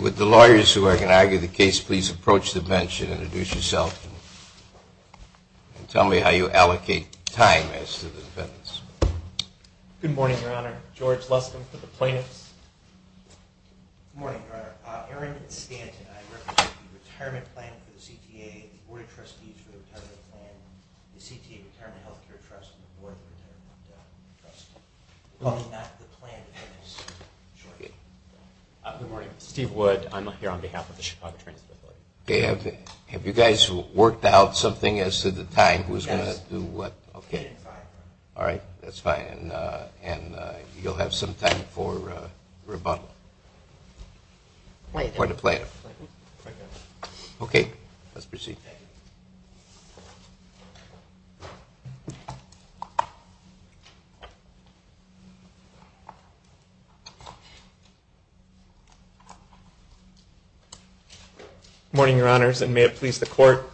With the lawyers who are going to argue the case, please approach the bench and introduce yourself and tell me how you allocate time as to the defendants. Good morning, Your Honor. George Lustin for the plaintiffs. Good morning, Your Honor. Aaron Stanton. I represent the Retirement Plan for the CTA, the Board of Trustees for the Retirement Plan, the CTA Retirement Health Care Trust, and the Board of the Retirement Trust. Good morning. Steve Wood. I'm here on behalf of the Chicago Transit Authority. Okay, have you guys worked out something as to the time? Yes. Okay. All right, that's fine. And you'll have some time for rebuttal. Wait a minute. For the plaintiff. Okay, let's proceed. Thank you. Good morning, Your Honors, and may it please the Court.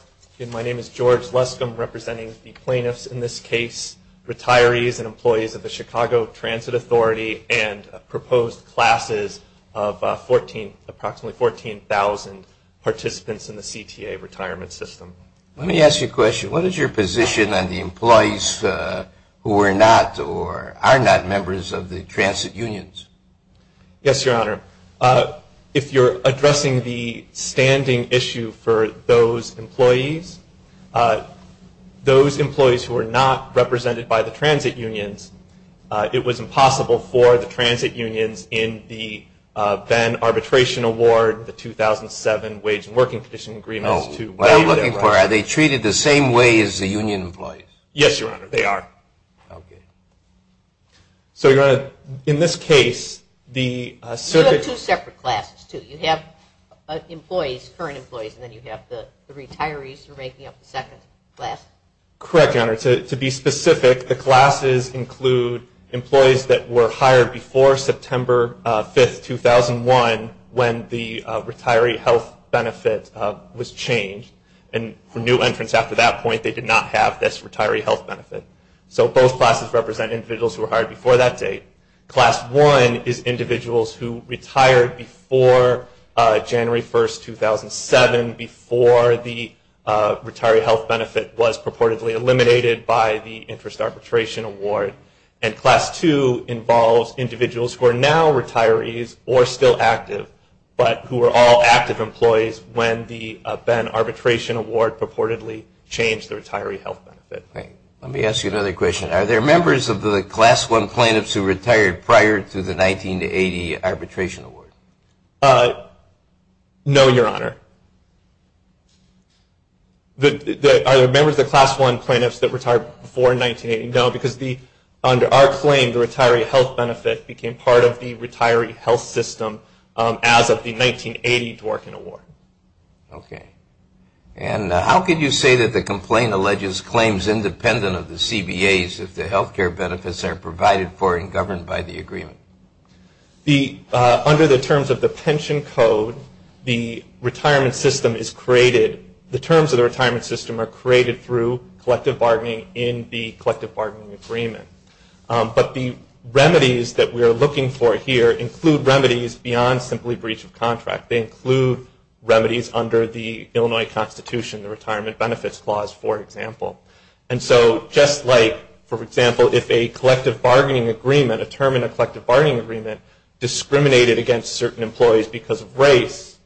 My name is George Luskin, representing the plaintiffs in this case, retirees and employees of the Chicago Transit Authority, and proposed classes of approximately 14,000 participants in the CTA retirement system. Let me ask you a question. What is your position on the employees who are not or are not members of the transit unions? Yes, Your Honor. If you're addressing the standing issue for those employees, those employees who are not represented by the transit unions, it was impossible for the transit unions in the then-arbitration award, the 2007 Wage and Working Condition Agreements to waive their rights. No, what I'm looking for, are they treated the same way as the union employees? Yes, Your Honor, they are. Okay. So, Your Honor, in this case, the circuit... You have two separate classes, too. You have employees, current employees, and then you have the retirees who are making up the second class? Correct, Your Honor. To be specific, the classes include employees that were hired before September 5, 2001, when the retiree health benefit was changed. And for new entrants after that point, they did not have this retiree health benefit. So, both classes represent individuals who were hired before that date. Class 1 is individuals who retired before January 1, 2007, before the retiree health benefit was purportedly eliminated by the interest arbitration award. And class 2 involves individuals who are now retirees or still active, but who were all active employees when the then-arbitration award purportedly changed the retiree health benefit. Okay. Let me ask you another question. Are there members of the class 1 plaintiffs who retired prior to the 1980 arbitration award? No, Your Honor. Are there members of the class 1 plaintiffs that retired before 1980? No, because under our claim, the retiree health benefit became part of the retiree health system as of the 1980 Dworkin Award. Okay. And how could you say that the complaint alleges claims independent of the CBAs if the health care benefits are provided for and governed by the agreement? Under the terms of the pension code, the terms of the retirement system are created through collective bargaining in the collective bargaining agreement. But the remedies that we are looking for here include remedies beyond simply breach of contract. They include remedies under the Illinois Constitution, the Retirement Benefits Clause, for example. And so just like, for example, if a collective bargaining agreement, a term in a collective bargaining agreement discriminated against certain employees because of race,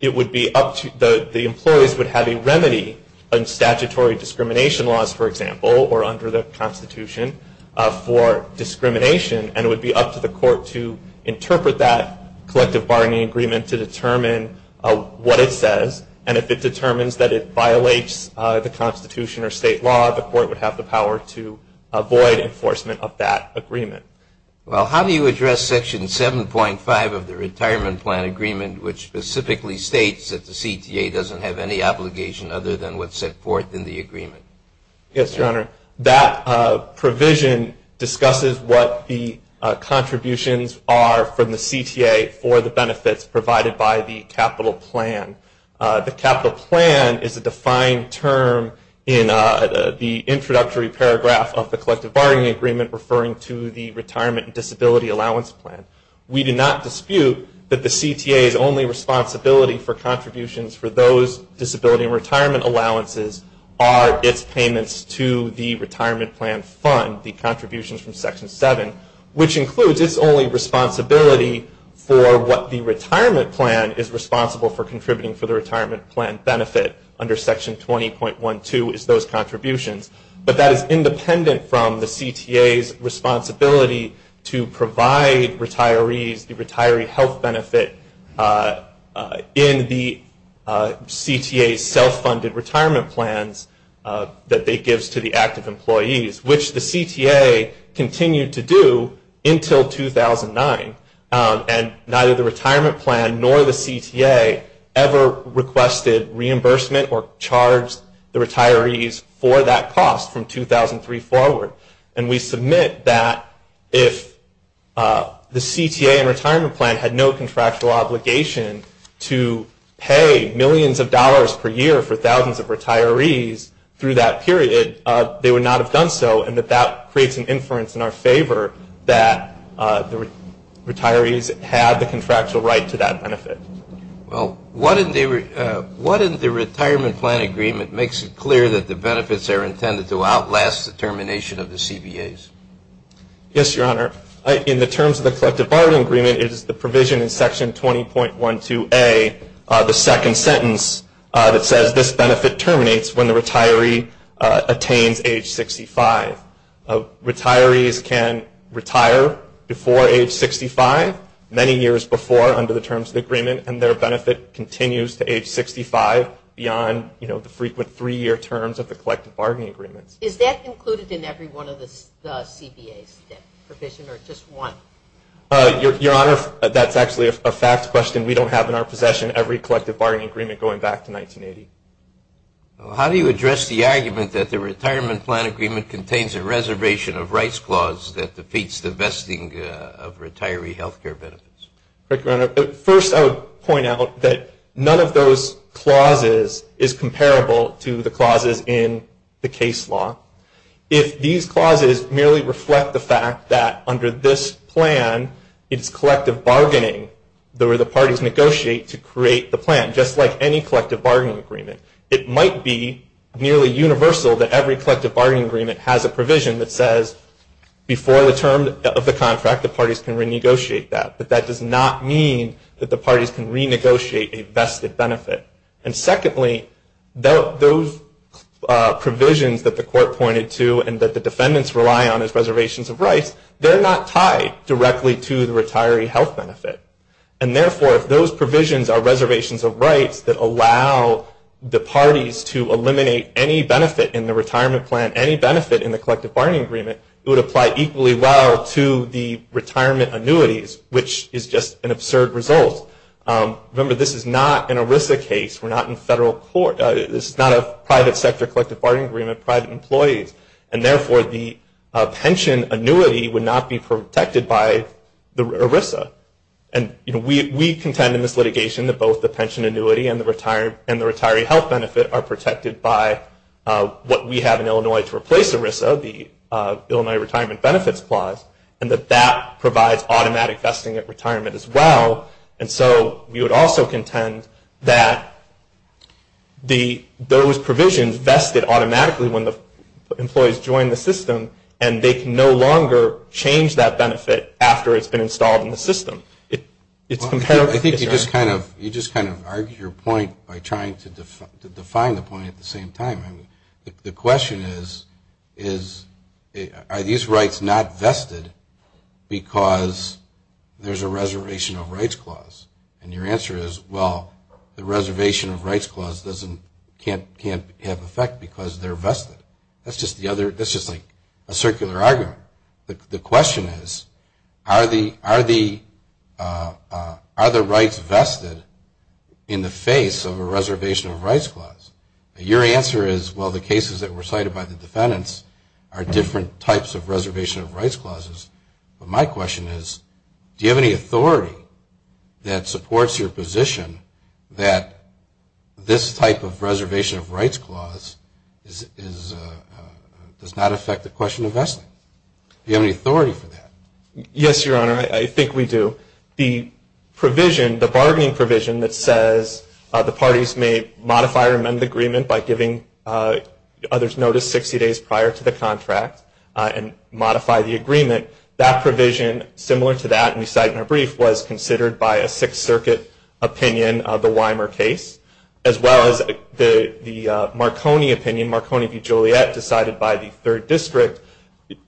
it would be up to the employees would have a remedy in statutory discrimination laws, for example, or under the Constitution for discrimination. And it would be up to the court to interpret that collective bargaining agreement to determine what it says. And if it determines that it violates the Constitution or state law, the court would have the power to avoid enforcement of that agreement. Well, how do you address Section 7.5 of the Retirement Plan Agreement, which specifically states that the CTA doesn't have any obligation other than what's set forth in the agreement? Yes, Your Honor. That provision discusses what the contributions are from the CTA for the benefits provided by the capital plan. The capital plan is a defined term in the introductory paragraph of the collective bargaining agreement referring to the retirement and disability allowance plan. We do not dispute that the CTA's only responsibility for contributions for those disability and retirement allowances are its payments to the retirement plan fund, the contributions from Section 7, which includes its only responsibility for what the retirement plan is responsible for contributing for the retirement plan benefit under Section 20.12 is those contributions. But that is independent from the CTA's responsibility to provide retirees the retiree health benefit in the CTA's well-funded retirement plans that it gives to the active employees, which the CTA continued to do until 2009. And neither the retirement plan nor the CTA ever requested reimbursement or charged the retirees for that cost from 2003 forward. And we submit that if the CTA and retirement plan had no contractual obligation to pay millions of dollars per year for thousands of retirees through that period, they would not have done so, and that that creates an inference in our favor that the retirees had the contractual right to that benefit. Well, what in the retirement plan agreement makes it clear that the benefits are intended to outlast the termination of the CBAs? Yes, Your Honor. In the terms of the collective bargaining agreement, it is the provision in Section 20.12a, the second sentence that says this benefit terminates when the retiree attains age 65. Retirees can retire before age 65, many years before under the terms of the agreement, and their benefit continues to age 65 beyond the frequent three-year terms of the collective bargaining agreements. Is that included in every one of the CBAs, that provision, or just one? Your Honor, that's actually a fact question. We don't have in our possession every collective bargaining agreement going back to 1980. How do you address the argument that the retirement plan agreement contains a reservation of rights clause that defeats the vesting of retiree health care benefits? First, I would point out that none of those clauses is comparable to the clauses in the case law. If these clauses merely reflect the fact that under this plan, it's collective bargaining, the parties negotiate to create the plan, just like any collective bargaining agreement. It might be nearly universal that every collective bargaining agreement has a provision that says, before the term of the contract, the parties can renegotiate that. But that does not mean that the parties can renegotiate a vested benefit. And secondly, those provisions that the Court pointed to and that the defendants rely on as reservations of rights, they're not tied directly to the retiree health benefit. And therefore, if those provisions are reservations of rights that allow the parties to eliminate any benefit in the retirement plan, any benefit in the collective bargaining agreement, it would apply equally well to the retirement annuities, which is just an absurd result. Remember, this is not an ERISA case. We're not in federal court. This is not a private sector collective bargaining agreement, private employees. And therefore, the pension annuity would not be protected by the ERISA. And we contend in this litigation that both the pension annuity and the retiree health benefit are protected by what we have in Illinois to replace ERISA, the Illinois Retirement Benefits Clause, and that that provides automatic vesting at retirement as well. And so we would also contend that those provisions vested automatically when the employees join the system and they can no longer change that benefit after it's been installed in the system. I think you just kind of argued your point by trying to define the point at the same time. The question is, are these rights not vested because there's a reservation of rights clause? And your answer is, well, the reservation of rights clause can't have effect because they're vested. That's just like a circular argument. The question is, are the rights vested in the face of a reservation of rights clause? Your answer is, well, the cases that were cited by the defendants are different types of reservation of rights clauses. But my question is, do you have any authority that supports your position that this type of reservation of rights clause does not affect the question of vesting? Do you have any authority for that? Yes, Your Honor, I think we do. The bargaining provision that says the parties may modify or amend the agreement by giving others notice 60 days prior to the contract and modify the agreement, that provision, similar to that we cite in our brief, was considered by a Sixth Circuit opinion of the Weimer case, as well as the Marconi opinion, Marconi v. Joliet, decided by the Third District.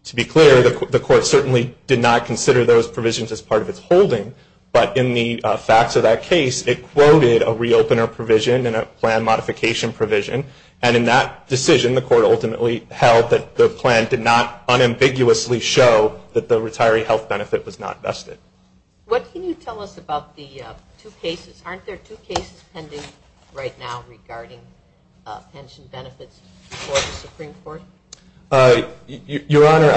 To be clear, the court certainly did not consider those provisions as part of its holding. But in the facts of that case, it quoted a reopener provision and a plan modification provision. And in that decision, the court ultimately held that the plan did not unambiguously show that the retiree health benefit was not vested. What can you tell us about the two cases? Aren't there two cases pending right now regarding pension benefits before the Supreme Court? Your Honor,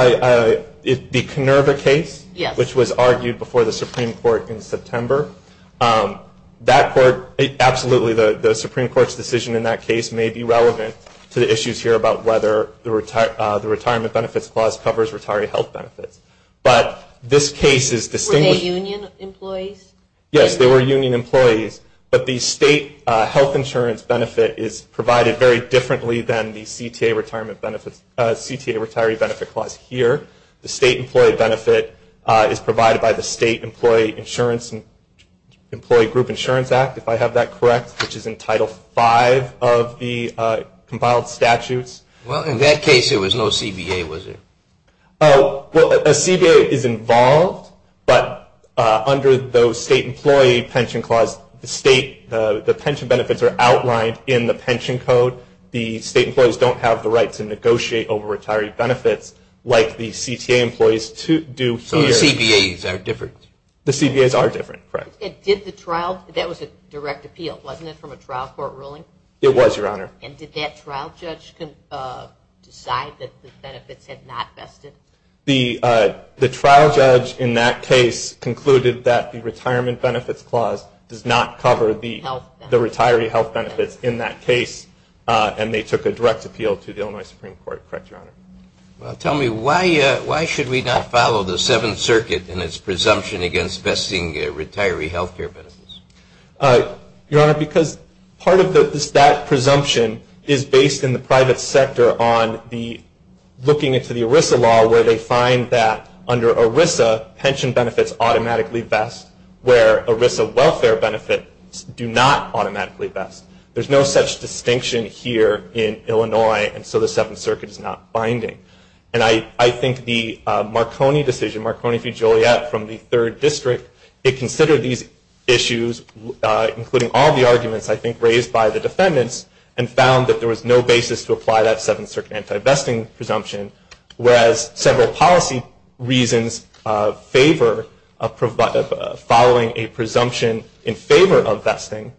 the Kenerva case, which was argued before the Supreme Court in September, that court, absolutely, the Supreme Court's decision in that case may be relevant to the issues here about whether the retirement benefits clause covers retiree health benefits. But this case is distinguished. Were they union employees? Yes, they were union employees. But the state health insurance benefit is provided very differently than the CTA retiree benefit clause here. The state employee benefit is provided by the State Employee Group Insurance Act, if I have that correct, which is in Title V of the compiled statutes. Well, in that case, there was no CBA, was there? Well, a CBA is involved, but under the State Employee Pension Clause, the state, the pension benefits are outlined in the pension code. The state employees don't have the right to negotiate over retiree benefits like the CTA employees do here. So the CBAs are different? The CBAs are different, correct. Did the trial, that was a direct appeal, wasn't it, from a trial court ruling? It was, Your Honor. And did that trial judge decide that the benefits had not vested? The trial judge in that case concluded that the retirement benefits clause does not cover the retiree health benefits in that case, and they took a direct appeal to the Illinois Supreme Court, correct, Your Honor? Well, tell me, why should we not follow the Seventh Circuit in its presumption against vesting retiree health care benefits? Your Honor, because part of that presumption is based in the private sector on looking into the ERISA law, where they find that under ERISA, pension benefits automatically vest, where ERISA welfare benefits do not automatically vest. There's no such distinction here in Illinois, and so the Seventh Circuit is not binding. And I think the Marconi decision, Marconi v. Joliet from the Third District, it considered these issues, including all the arguments I think raised by the defendants, and found that there was no basis to apply that Seventh Circuit anti-vesting presumption, whereas several policy reasons favor following a presumption in favor of vesting,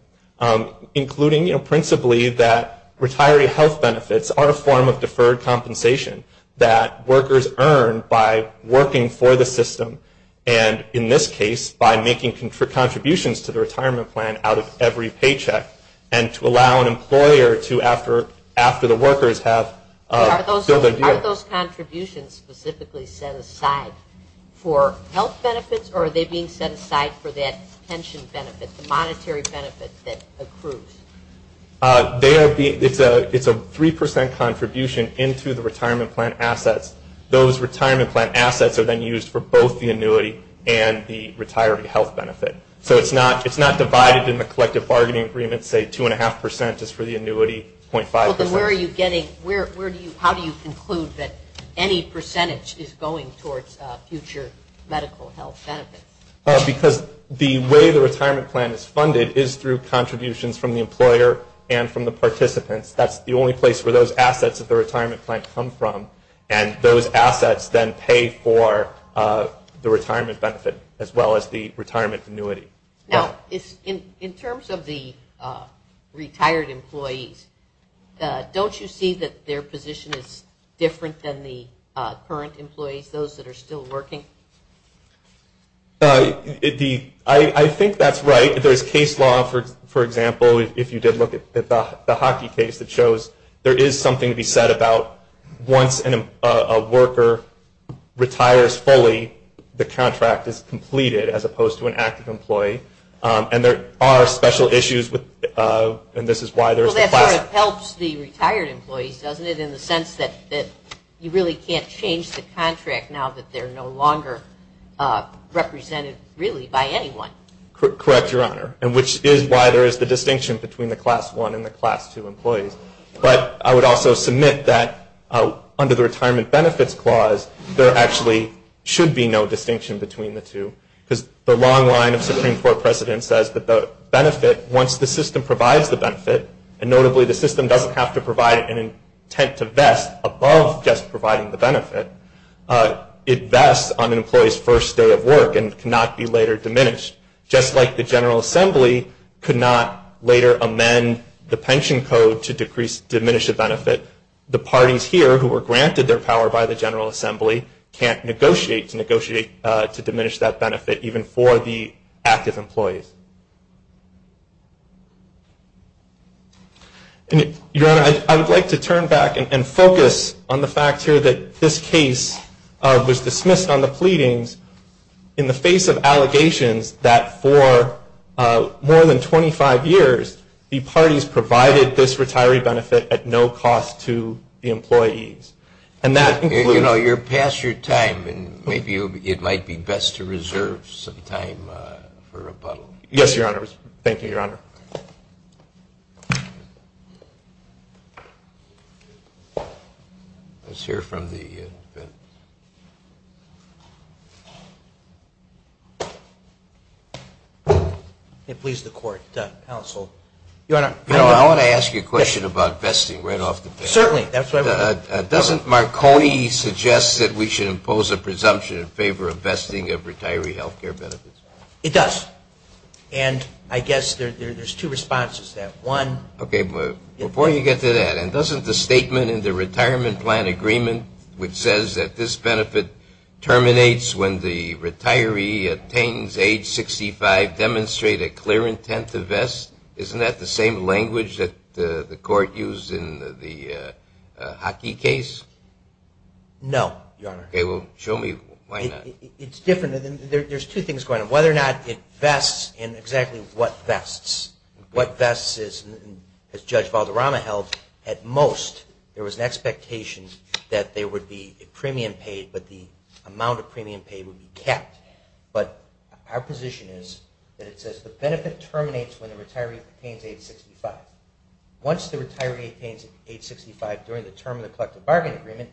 including principally that retiree health benefits are a form of deferred compensation that workers earn by working for the system. And in this case, by making contributions to the retirement plan out of every paycheck, and to allow an employer to, after the workers have filled their deal. Are those contributions specifically set aside for health benefits, or are they being set aside for that pension benefit, the monetary benefit that accrues? It's a 3 percent contribution into the retirement plan assets. Those retirement plan assets are then used for both the annuity and the retiree health benefit. So it's not divided in the collective bargaining agreement, say 2.5 percent is for the annuity, 0.5 percent. Well, then where are you getting, where do you, how do you conclude that any percentage is going towards future medical health benefits? Because the way the retirement plan is funded is through contributions from the employer and from the participants. That's the only place where those assets of the retirement plan come from, and those assets then pay for the retirement benefit as well as the retirement annuity. Now, in terms of the retired employees, don't you see that their position is different than the current employees, those that are still working? I think that's right. There's case law, for example, if you did look at the hockey case, it shows there is something to be said about once a worker retires fully, the contract is completed as opposed to an active employee, and there are special issues with, and this is why there's the class. Well, that sort of helps the retired employees, doesn't it, in the sense that you really can't change the contract now that they're no longer represented really by anyone. Correct, Your Honor, and which is why there is the distinction between the class one and the class two employees. But I would also submit that under the retirement benefits clause, there actually should be no distinction between the two, because the long line of Supreme Court precedent says that the benefit, once the system provides the benefit, and notably the system doesn't have to provide an intent to vest above just providing the benefit, it vests on an employee's first day of work and cannot be later diminished. Just like the General Assembly could not later amend the pension code to diminish a benefit, the parties here who were granted their power by the General Assembly can't negotiate to diminish that benefit, even for the active employees. Your Honor, I would like to turn back and focus on the fact here that this case was dismissed on the pleadings in the face of allegations that for more than 25 years, the parties provided this retiree benefit at no cost to the employees. And that includes... You know, you're past your time, and maybe it might be best to reserve some time for rebuttal. Yes, Your Honor. Thank you, Your Honor. Let's hear from the defendants. Please, the court, counsel. Your Honor, I want to ask you a question about vesting right off the bat. Certainly. Doesn't Marconi suggest that we should impose a presumption in favor of vesting of retiree health care benefits? It does. And I guess there's two responses to that. One... Okay. Before you get to that, and doesn't the statement in the retirement plan agreement, which says that this benefit terminates when the retiree attains age 65, demonstrate a clear intent to vest? Isn't that the same language that the court used in the Hockey case? No, Your Honor. Okay. Well, show me why not. It's different. There's two things going on. Whether or not it vests and exactly what vests. What vests, as Judge Valderrama held, at most there was an expectation that there would be a premium paid, but the amount of premium paid would be kept. But our position is that it says the benefit terminates when the retiree attains age 65. Once the retiree attains age 65 during the term of the collective bargain agreement,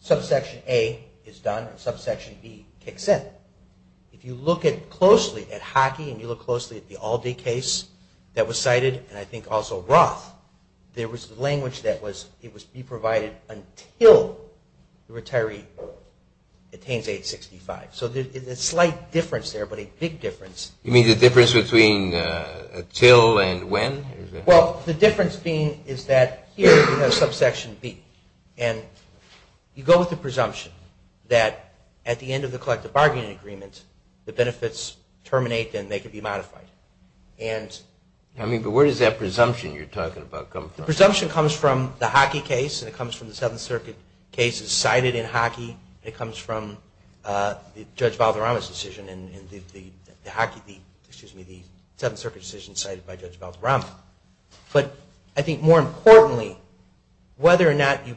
subsection A is done and subsection B kicks in. If you look closely at Hockey and you look closely at the Aldi case that was cited, and I think also Roth, there was language that it must be provided until the retiree attains age 65. So there's a slight difference there, but a big difference. You mean the difference between until and when? Well, the difference being is that here you have subsection B, and you go with the presumption that at the end of the collective bargaining agreement, the benefits terminate and they can be modified. I mean, but where does that presumption you're talking about come from? The presumption comes from the Hockey case, and it comes from the Seventh Circuit cases cited in Hockey, and it comes from Judge Valderrama's decision in the Hockey, excuse me, the Seventh Circuit decision cited by Judge Valderrama. But I think more importantly, whether or not you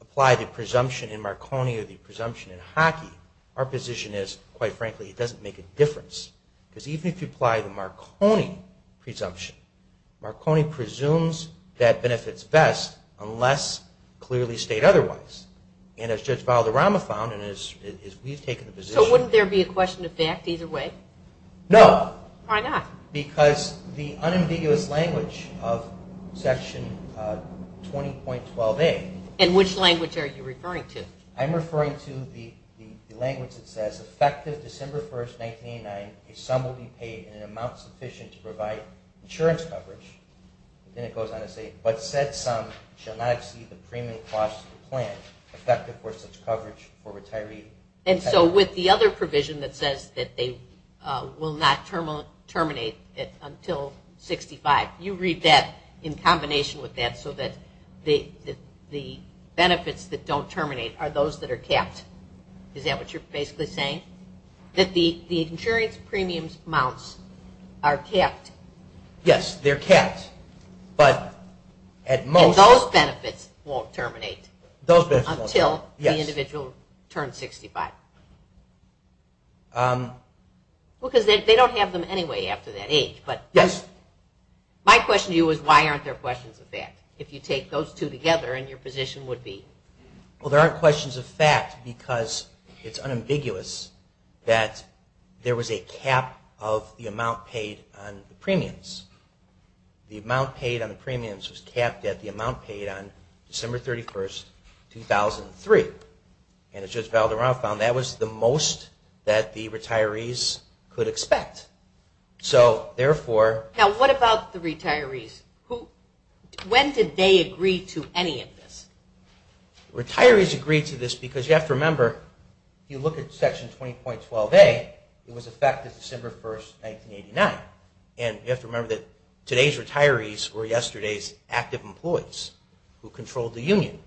apply the presumption in Marconi or the presumption in Hockey, our position is, quite frankly, it doesn't make a difference. Because even if you apply the Marconi presumption, Marconi presumes that benefits vest unless clearly state otherwise. And as Judge Valderrama found and as we've taken the position. So wouldn't there be a question of fact either way? No. Why not? Because the unambiguous language of Section 20.12a. And which language are you referring to? I'm referring to the language that says effective December 1, 1989, a sum will be paid in an amount sufficient to provide insurance coverage. Then it goes on to say, but said sum shall not exceed the premium cost of the plan effective for such coverage for retiree. And so with the other provision that says that they will not terminate until 65, you read that in combination with that so that the benefits that don't terminate are those that are capped. Is that what you're basically saying? That the insurance premium amounts are capped. Yes, they're capped. And those benefits won't terminate until the individual turns 65. Because they don't have them anyway after that age. But my question to you is why aren't there questions of fact? If you take those two together and your position would be? Well, there aren't questions of fact because it's unambiguous that there was a cap of the amount paid on the premiums. The amount paid on the premiums was capped at the amount paid on December 31, 2003. And as Judge Valderrama found, that was the most that the retirees could expect. Now what about the retirees? When did they agree to any of this? If you look at Section 20.12a, it was effective December 1, 1989. And you have to remember that today's retirees were yesterday's active employees who controlled the union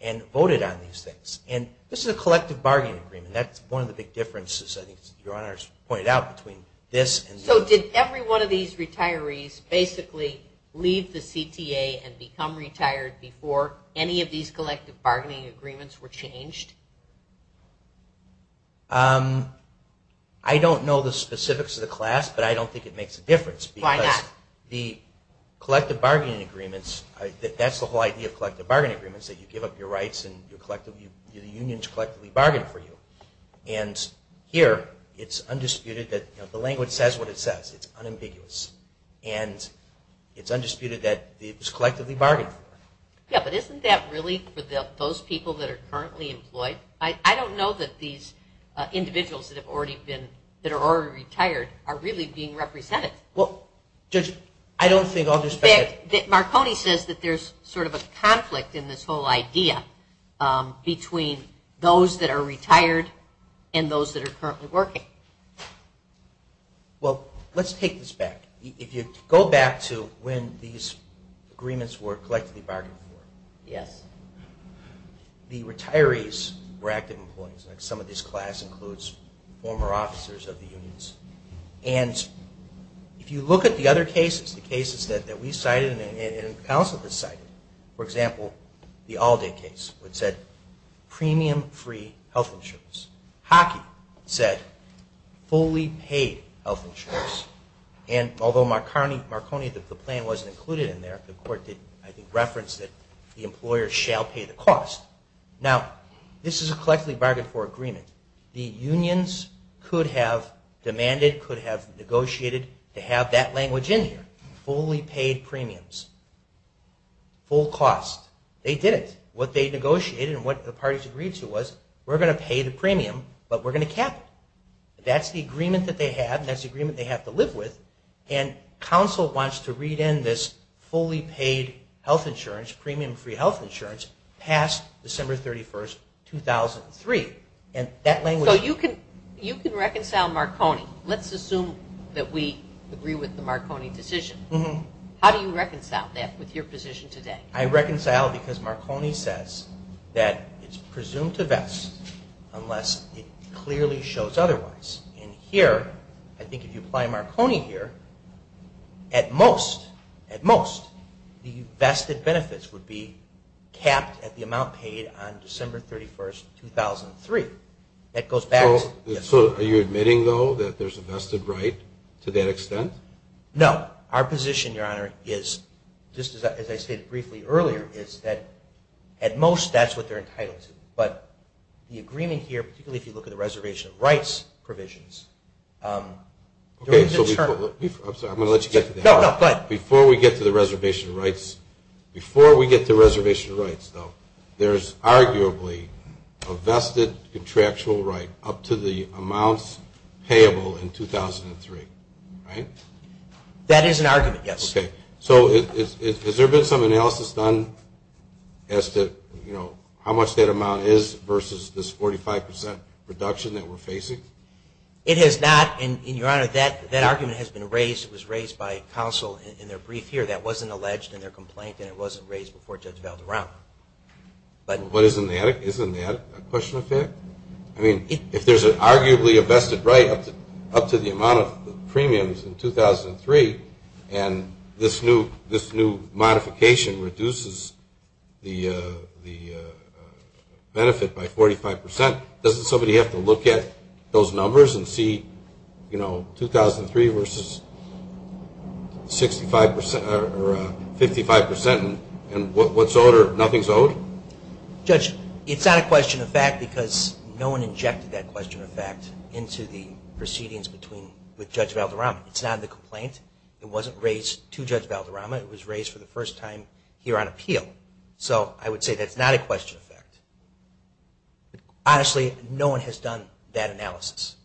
and voted on these things. And this is a collective bargaining agreement. That's one of the big differences, I think your Honor's pointed out, between this and this. So did every one of these retirees basically leave the CTA and become retired before any of these collective bargaining agreements were changed? I don't know the specifics of the class, but I don't think it makes a difference. Why not? Because the collective bargaining agreements, that's the whole idea of collective bargaining agreements, that you give up your rights and the unions collectively bargain for you. And here it's undisputed that the language says what it says. It's unambiguous. And it's undisputed that it was collectively bargained for. Yeah, but isn't that really for those people that are currently employed? I don't know that these individuals that are already retired are really being represented. Judge, I don't think I'll just back up. Marconi says that there's sort of a conflict in this whole idea between those that are retired and those that are currently working. Well, let's take this back. If you go back to when these agreements were collectively bargained for, the retirees were active employees. Some of this class includes former officers of the unions. And if you look at the other cases, the cases that we cited and the Council has cited, for example, the All Day case, which said premium free health insurance. Hockey said fully paid health insurance. And although Marconi, the plan wasn't included in there, the court did, I think, reference that the employer shall pay the cost. Now, this is a collectively bargained for agreement. The unions could have demanded, could have negotiated to have that language in here, fully paid premiums, full cost. They didn't. What they negotiated and what the parties agreed to was we're going to pay the premium, but we're going to cap it. That's the agreement that they have, and that's the agreement they have to live with. And Council wants to read in this fully paid health insurance, premium free health insurance, past December 31, 2003. So you can reconcile Marconi. Let's assume that we agree with the Marconi decision. How do you reconcile that with your position today? I reconcile because Marconi says that it's presumed to vest unless it clearly shows otherwise. And here, I think if you apply Marconi here, at most, at most, the vested benefits would be capped at the amount paid on December 31, 2003. So are you admitting, though, that there's a vested right to that extent? No. Our position, Your Honor, is, just as I stated briefly earlier, is that at most that's what they're entitled to. But the agreement here, particularly if you look at the reservation of rights provisions, Okay, so before we get to the reservation of rights, before we get to the reservation of rights, though, there's arguably a vested contractual right up to the amounts payable in 2003, right? That is an argument, yes. Okay. So has there been some analysis done as to, you know, how much that amount is versus this 45% reduction that we're facing? It has not. And, Your Honor, that argument has been raised. It was raised by counsel in their brief here. That wasn't alleged in their complaint and it wasn't raised before Judge Valderrama. But isn't that a question of fact? I mean, if there's arguably a vested right up to the amount of premiums in 2003 and this new modification reduces the benefit by 45%, doesn't somebody have to look at those numbers and see, you know, 2003 versus 55% and what's owed or nothing's owed? Judge, it's not a question of fact because no one injected that question of fact into the proceedings with Judge Valderrama. It's not in the complaint. It wasn't raised to Judge Valderrama. It was raised for the first time here on appeal. So I would say that's not a question of fact. Honestly, no one has done that analysis.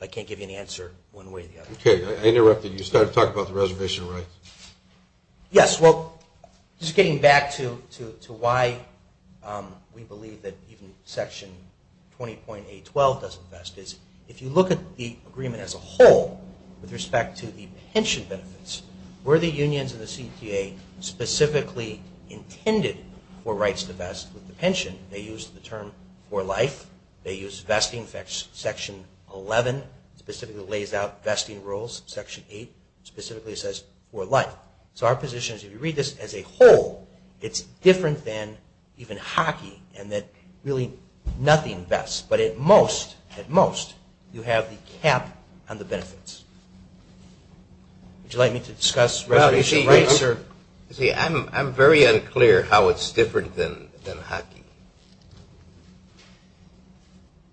I can't give you an answer one way or the other. Okay. I interrupted. You started talking about the reservation rights. Yes. Well, just getting back to why we believe that even Section 20.812 doesn't vest is if you look at the agreement as a whole with respect to the pension benefits, were the unions and the CTA specifically intended for rights to vest with the pension? They used the term for life. They used vesting section 11 specifically lays out vesting rules. Section 8 specifically says for life. So our position is if you read this as a whole, it's different than even hockey and that really nothing vests. But at most, at most, you have the cap on the benefits. Would you like me to discuss reservation rights? I'm very unclear how it's different than hockey.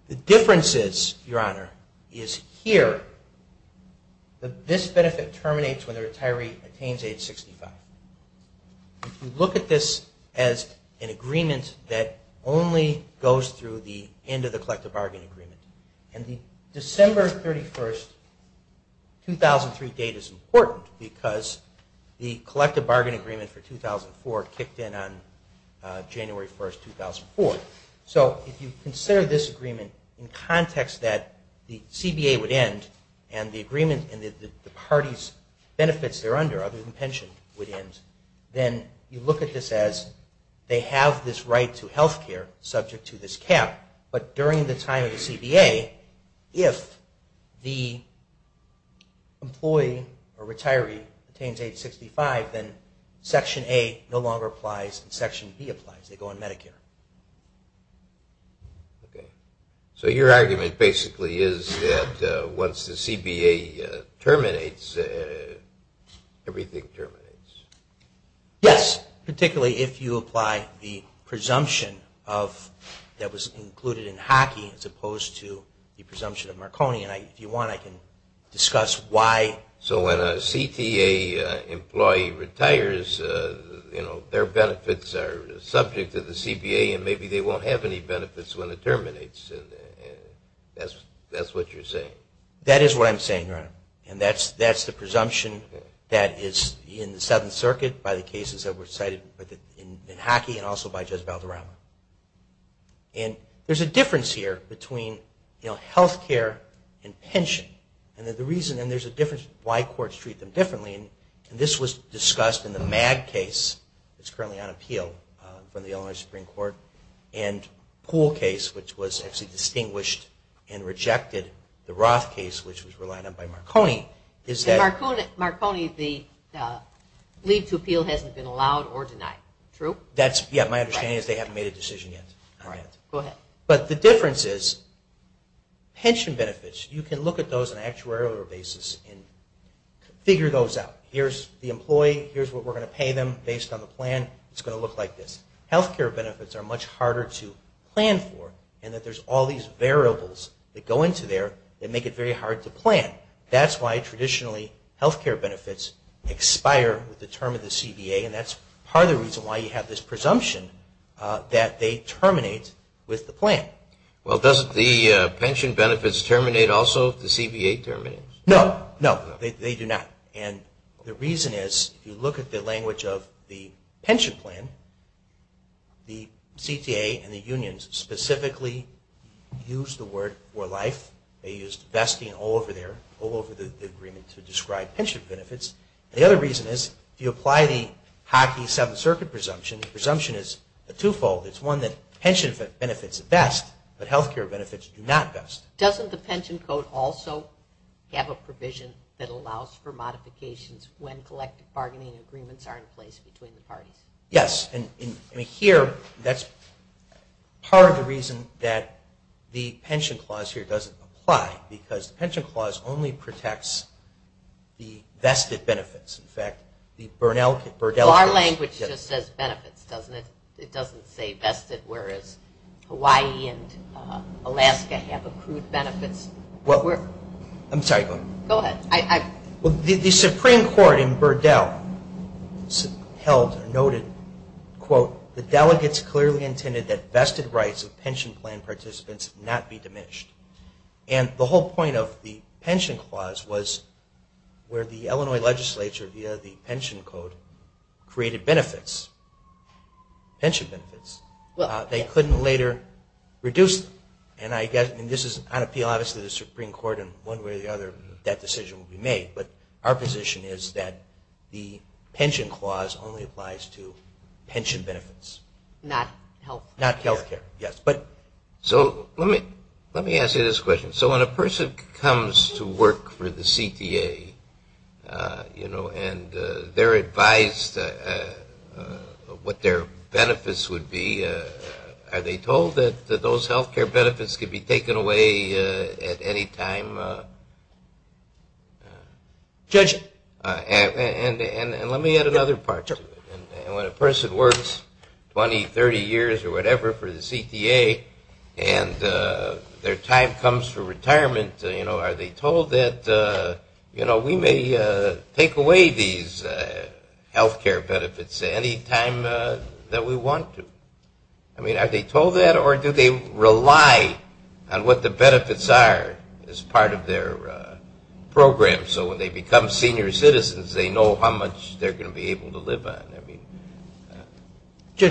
The difference is, Your Honor, is here that this benefit terminates when the retiree attains age 65. If you look at this as an agreement that only goes through the end of the collective bargain agreement and the December 31, 2003 date is important because the collective bargain agreement for 2004 kicked in on January 1, 2004. So if you consider this agreement in context that the CBA would end and the agreement and the party's benefits they're under other than pension would end, then you look at this as they have this right to health care subject to this cap. But during the time of the CBA, if the employee or retiree attains age 65, then section A no longer applies and section B applies. They go on Medicare. Okay. So your argument basically is that once the CBA terminates, everything terminates. Yes. Particularly if you apply the presumption that was included in hockey as opposed to the presumption of Marconi. If you want, I can discuss why. So when a CTA employee retires, their benefits are subject to the CBA and maybe they won't have any benefits when it terminates. That's what you're saying? That is what I'm saying, Your Honor. And that's the presumption that is in the Seventh Circuit by the cases that were cited in hockey and also by Judge Valderrama. And there's a difference here between health care and pension. And there's a difference why courts treat them differently. And this was discussed in the Mag case that's currently on appeal from the Illinois Supreme Court and Pool case, which was actually distinguished and rejected. The Roth case, which was relied on by Marconi. Marconi, the leave to appeal hasn't been allowed or denied. True? My understanding is they haven't made a decision yet. But the difference is pension benefits, you can look at those on an actuarial basis and figure those out. Here's the employee. Here's what we're going to pay them based on the plan. It's going to look like this. Health care benefits are much harder to plan for and that there's all these variables that go into there that make it very hard to plan. That's why traditionally health care benefits expire with the term of the CBA. And that's part of the reason why you have this presumption that they terminate with the plan. Well, doesn't the pension benefits terminate also if the CBA terminates? No, no, they do not. And the reason is if you look at the language of the pension plan, the CTA and the unions specifically use the word for life. They used vesting all over the agreement to describe pension benefits. The other reason is if you apply the Hockey Seventh Circuit presumption, the presumption is a twofold. It's one that pension benefits vest, but health care benefits do not vest. Doesn't the pension code also have a provision that allows for modifications when collective bargaining agreements are in place between the parties? Yes. And here that's part of the reason that the pension clause here doesn't apply because the pension clause only protects the vested benefits. In fact, the Burdell case – Well, our language just says benefits, doesn't it? It doesn't say vested, whereas Hawaii and Alaska have accrued benefits. Well, I'm sorry. Go ahead. The Supreme Court in Burdell noted, quote, the delegates clearly intended that vested rights of pension plan participants not be diminished. And the whole point of the pension clause was where the Illinois legislature, via the pension code, created benefits, pension benefits. They couldn't later reduce them. And this is on appeal, obviously, to the Supreme Court and one way or the other that decision will be made. But our position is that the pension clause only applies to pension benefits. Not health care. Not health care, yes. So let me ask you this question. So when a person comes to work for the CTA, you know, and they're advised what their benefits would be, are they told that those health care benefits could be taken away at any time? Judged. And let me add another part to it. When a person works 20, 30 years or whatever for the CTA and their time comes for retirement, you know, are they told that, you know, we may take away these health care benefits any time that we want to? I mean, are they told that, or do they rely on what the benefits are as part of their program? So when they become senior citizens, they know how much they're going to be able to live on. I mean, how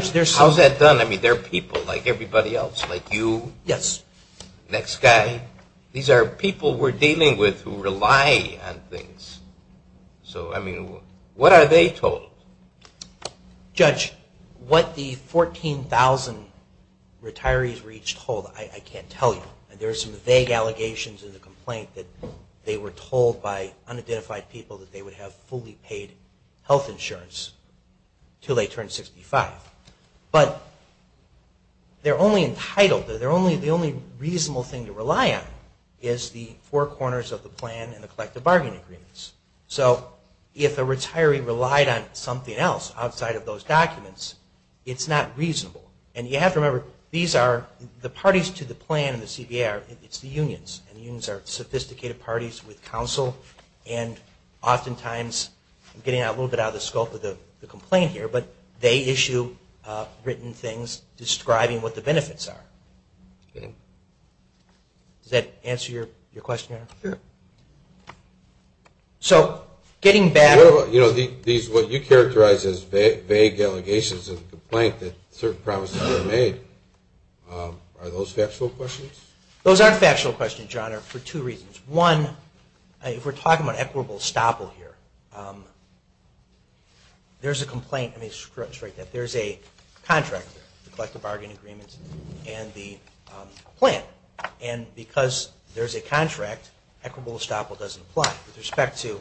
is that done? I mean, there are people like everybody else, like you. Yes. Next guy. These are people we're dealing with who rely on things. So, I mean, what are they told? Judge, what the 14,000 retirees were each told, I can't tell you. There are some vague allegations in the complaint that they were told by unidentified people that they would have fully paid health insurance until they turned 65. But they're only entitled, the only reasonable thing to rely on, is the four corners of the plan and the collective bargaining agreements. So if a retiree relied on something else outside of those documents, it's not reasonable. And you have to remember, these are the parties to the plan in the CBA. It's the unions, and unions are sophisticated parties with counsel, and oftentimes, I'm getting a little bit out of the scope of the complaint here, but they issue written things describing what the benefits are. Okay. Does that answer your question, Your Honor? Yeah. So getting back... You know, what you characterize as vague allegations of the complaint, that certain promises were made, are those factual questions? Those aren't factual questions, Your Honor, for two reasons. One, if we're talking about equitable estoppel here, there's a complaint. Let me just correct that. There's a contract there, the collective bargaining agreements and the plan. And because there's a contract, equitable estoppel doesn't apply. With respect to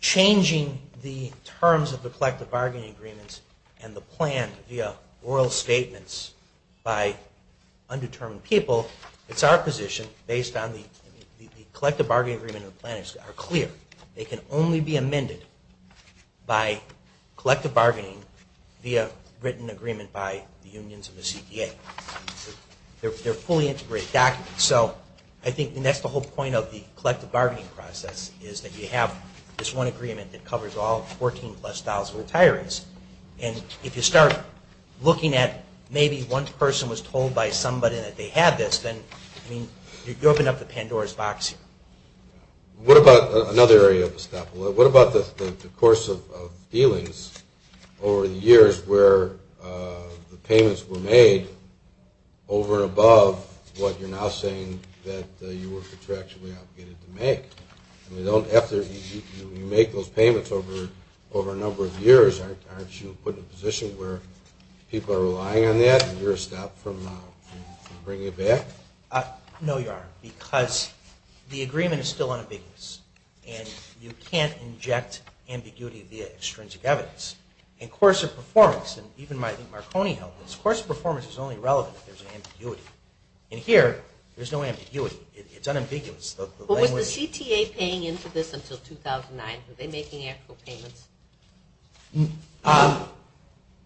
changing the terms of the collective bargaining agreements and the plan via oral statements by undetermined people, it's our position, based on the collective bargaining agreement and the plan, are clear. They can only be amended by collective bargaining via written agreement by the unions and the CDA. They're fully integrated documents. So I think that's the whole point of the collective bargaining process, is that you have this one agreement that covers all 14-plus thousand retirees. And if you start looking at maybe one person was told by somebody that they had this, you open up the Pandora's box here. What about another area of estoppel? What about the course of dealings over the years where the payments were made over and above what you're now saying that you were contractually obligated to make? After you make those payments over a number of years, aren't you put in a position where people are relying on that and you're stopped from bringing it back? No, Your Honor, because the agreement is still unambiguous, and you can't inject ambiguity via extrinsic evidence. And course of performance, and even Marconi held this, course of performance is only relevant if there's ambiguity. And here, there's no ambiguity. It's unambiguous. But was the CTA paying into this until 2009? Were they making actual payments?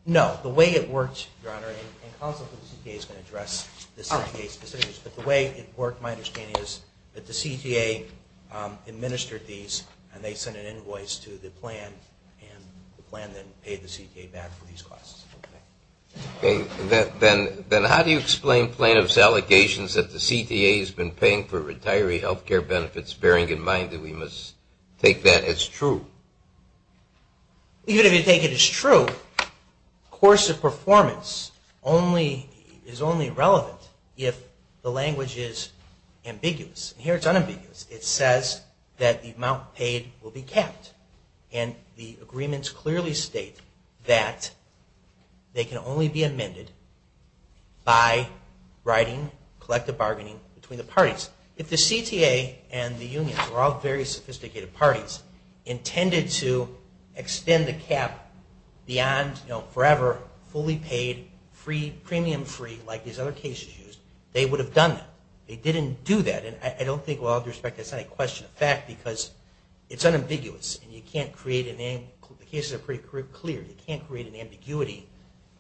No. The way it works, Your Honor, and counsel from the CTA is going to address this in a case-by-case basis, but the way it worked, my understanding is, that the CTA administered these and they sent an invoice to the plan and the plan then paid the CTA back for these costs. Okay. Then how do you explain plaintiff's allegations that the CTA has been paying for retiree health care benefits, bearing in mind that we must take that as true? Even if you take it as true, course of performance is only relevant if the language is ambiguous. Here, it's unambiguous. It says that the amount paid will be capped. And the agreements clearly state that they can only be amended by writing collective bargaining between the parties. If the CTA and the unions were all very sophisticated parties, intended to extend the cap beyond forever, fully paid, premium free, like these other cases used, they would have done that. They didn't do that. And I don't think, with all due respect, it's not a question of fact because it's unambiguous and you can't create a name. The cases are pretty clear. You can't create an ambiguity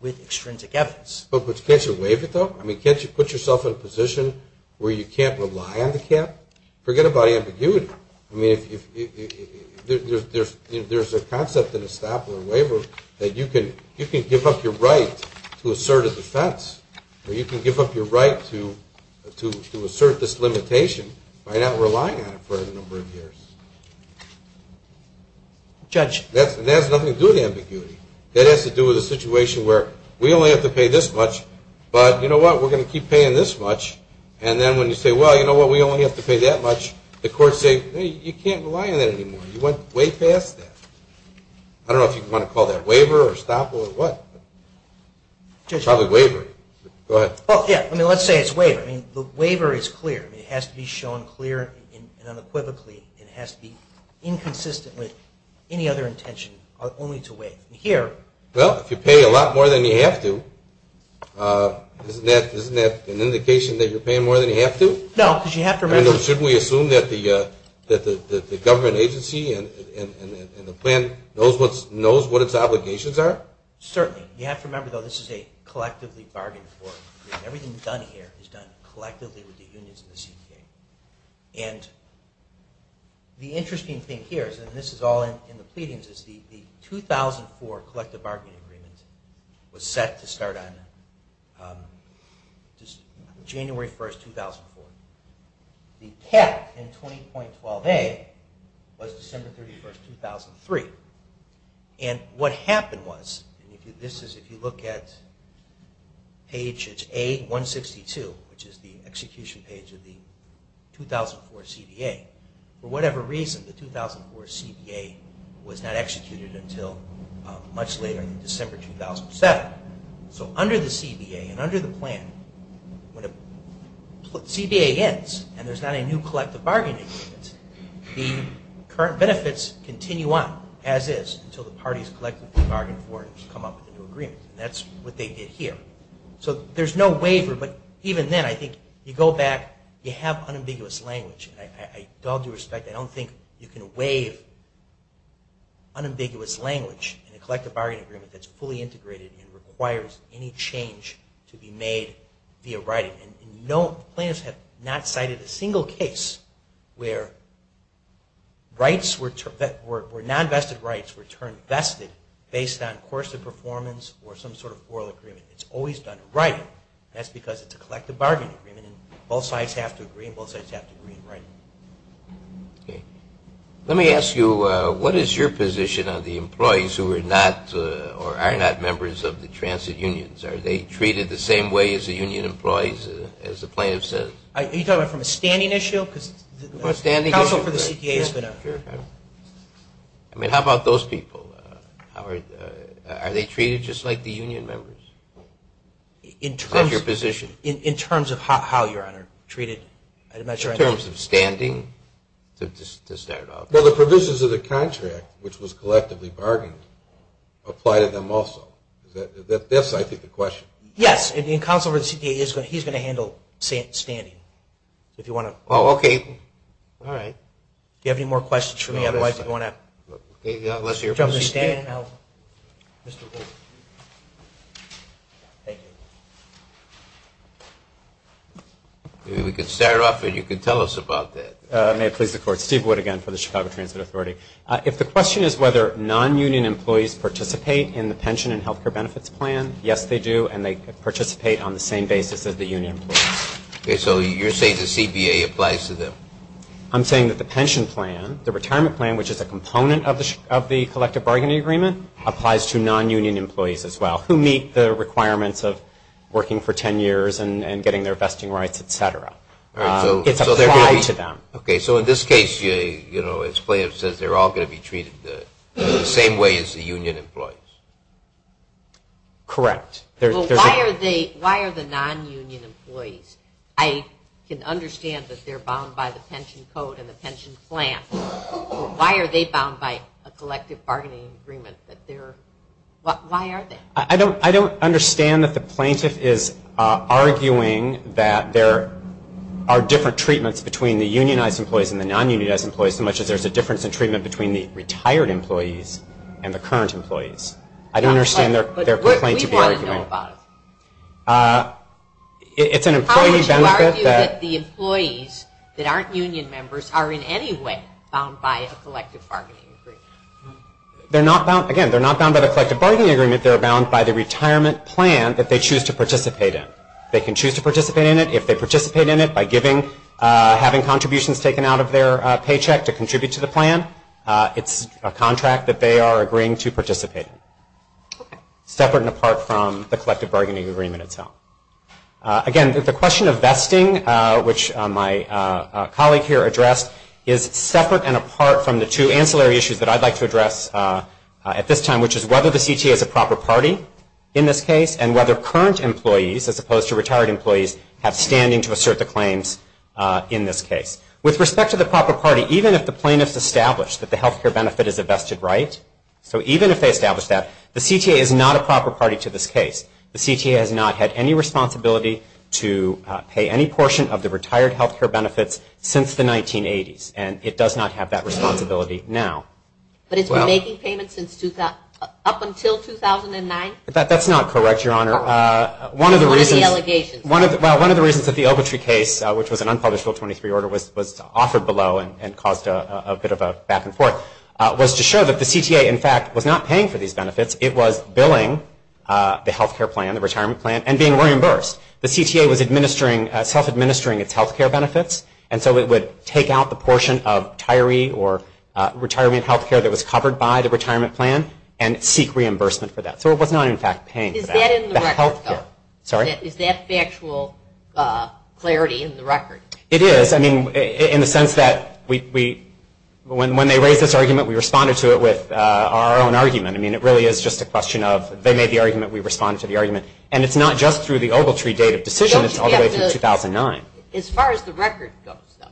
with extrinsic evidence. But can't you waive it, though? I mean, can't you put yourself in a position where you can't rely on the cap? Forget about ambiguity. I mean, there's a concept in the Stapler waiver that you can give up your right to assert a defense or you can give up your right to assert this limitation by not relying on it for a number of years. Judge? That has nothing to do with ambiguity. That has to do with a situation where we only have to pay this much, but you know what, we're going to keep paying this much. And then when you say, well, you know what, we only have to pay that much, the courts say, hey, you can't rely on that anymore. You went way past that. I don't know if you want to call that waiver or Staple or what. Judge? Probably waiver. Go ahead. Well, yeah. I mean, let's say it's waiver. I mean, the waiver is clear. It has to be shown clear and unequivocally. It has to be inconsistent with any other intention only to waive. Well, if you pay a lot more than you have to, isn't that an indication that you're paying more than you have to? No, because you have to remember. Shouldn't we assume that the government agency and the plan knows what its obligations are? Certainly. You have to remember, though, this is a collectively bargained for. Everything done here is done collectively with the unions and the CTA. And the interesting thing here, and this is all in the pleadings, is the 2004 collective bargaining agreement was set to start on January 1st, 2004. The cap in 20.12a was December 31st, 2003. And what happened was, and this is if you look at page A162, which is the execution page of the 2004 CDA, for whatever reason, the 2004 CDA was not executed until much later in December 2007. So under the CDA and under the plan, when the CDA ends and there's not a new collective bargaining agreement, the current benefits continue on as is until the parties collectively bargain for it and come up with a new agreement. And that's what they did here. So there's no waiver, but even then I think you go back, you have unambiguous language. And with all due respect, I don't think you can waive unambiguous language in a collective bargaining agreement that's fully integrated and requires any change to be made via writing. And plaintiffs have not cited a single case where non-vested rights were turned vested based on course of performance or some sort of oral agreement. It's always done in writing. That's because it's a collective bargaining agreement and both sides have to agree and both sides have to agree in writing. Okay. Let me ask you, what is your position on the employees who are not or are not members of the transit unions? Are they treated the same way as the union employees, as the plaintiff says? Are you talking about from a standing issue? From a standing issue. Counsel for the CDA has been a... I mean, how about those people? Are they treated just like the union members? In terms of... Is that your position? In terms of how, Your Honor, treated? In terms of standing, to start off. Well, the provisions of the contract, which was collectively bargained, apply to them also. That's, I think, the question. Yes. Counsel for the CDA, he's going to handle standing. If you want to... Oh, okay. All right. Do you have any more questions for me? Otherwise, if you want to... Let's hear from the CDA. Mr. Hoover. Thank you. Maybe we can start off and you can tell us about that. May it please the Court. Steve Wood again for the Chicago Transit Authority. If the question is whether non-union employees participate in the pension and health care benefits plan, yes, they do, and they participate on the same basis as the union employees. Okay. So you're saying the CBA applies to them? I'm saying that the pension plan, the retirement plan, which is a component of the collective bargaining agreement, applies to non-union employees as well, who meet the requirements of working for ten years and getting their vesting rights, et cetera. It's applied to them. Okay. So in this case, you know, it says they're all going to be treated the same way as the union employees. Correct. Well, why are the non-union employees? I can understand that they're bound by the pension code and the pension plan. Why are they bound by a collective bargaining agreement? Why are they? I don't understand that the plaintiff is arguing that there are different treatments between the unionized employees and the non-unionized employees so much as there's a difference in treatment between the retired employees and the current employees. I don't understand their complaint to be arguing. We want to know about it. It's an employee benefit that… Bound by a collective bargaining agreement. Again, they're not bound by the collective bargaining agreement. They're bound by the retirement plan that they choose to participate in. They can choose to participate in it. If they participate in it by giving, having contributions taken out of their paycheck to contribute to the plan, it's a contract that they are agreeing to participate in. Okay. Again, the question of vesting, which my colleague here addressed, is separate and apart from the two ancillary issues that I'd like to address at this time, which is whether the CTA is a proper party in this case and whether current employees as opposed to retired employees have standing to assert the claims in this case. With respect to the proper party, even if the plaintiff's established that the health care benefit is a vested right, so even if they establish that, the CTA is not a proper party to this case. The CTA has not had any responsibility to pay any portion of the retired health care benefits since the 1980s, and it does not have that responsibility now. But it's been making payments up until 2009? That's not correct, Your Honor. One of the reasons that the Ogletree case, which was an unpublished Bill 23 order, was offered below and caused a bit of a back and forth, was to show that the CTA, in fact, was not paying for these benefits. It was billing the health care plan, the retirement plan, and being reimbursed. The CTA was self-administering its health care benefits, and so it would take out the portion of retiree or retirement health care that was covered by the retirement plan and seek reimbursement for that. So it was not, in fact, paying for that. Is that in the record, though? Sorry? Is that factual clarity in the record? It is. I mean, in the sense that when they raised this argument, we responded to it with our own argument. I mean, it really is just a question of they made the argument, we responded to the argument. And it's not just through the Ogletree date of decision. It's all the way through 2009. As far as the record goes, though,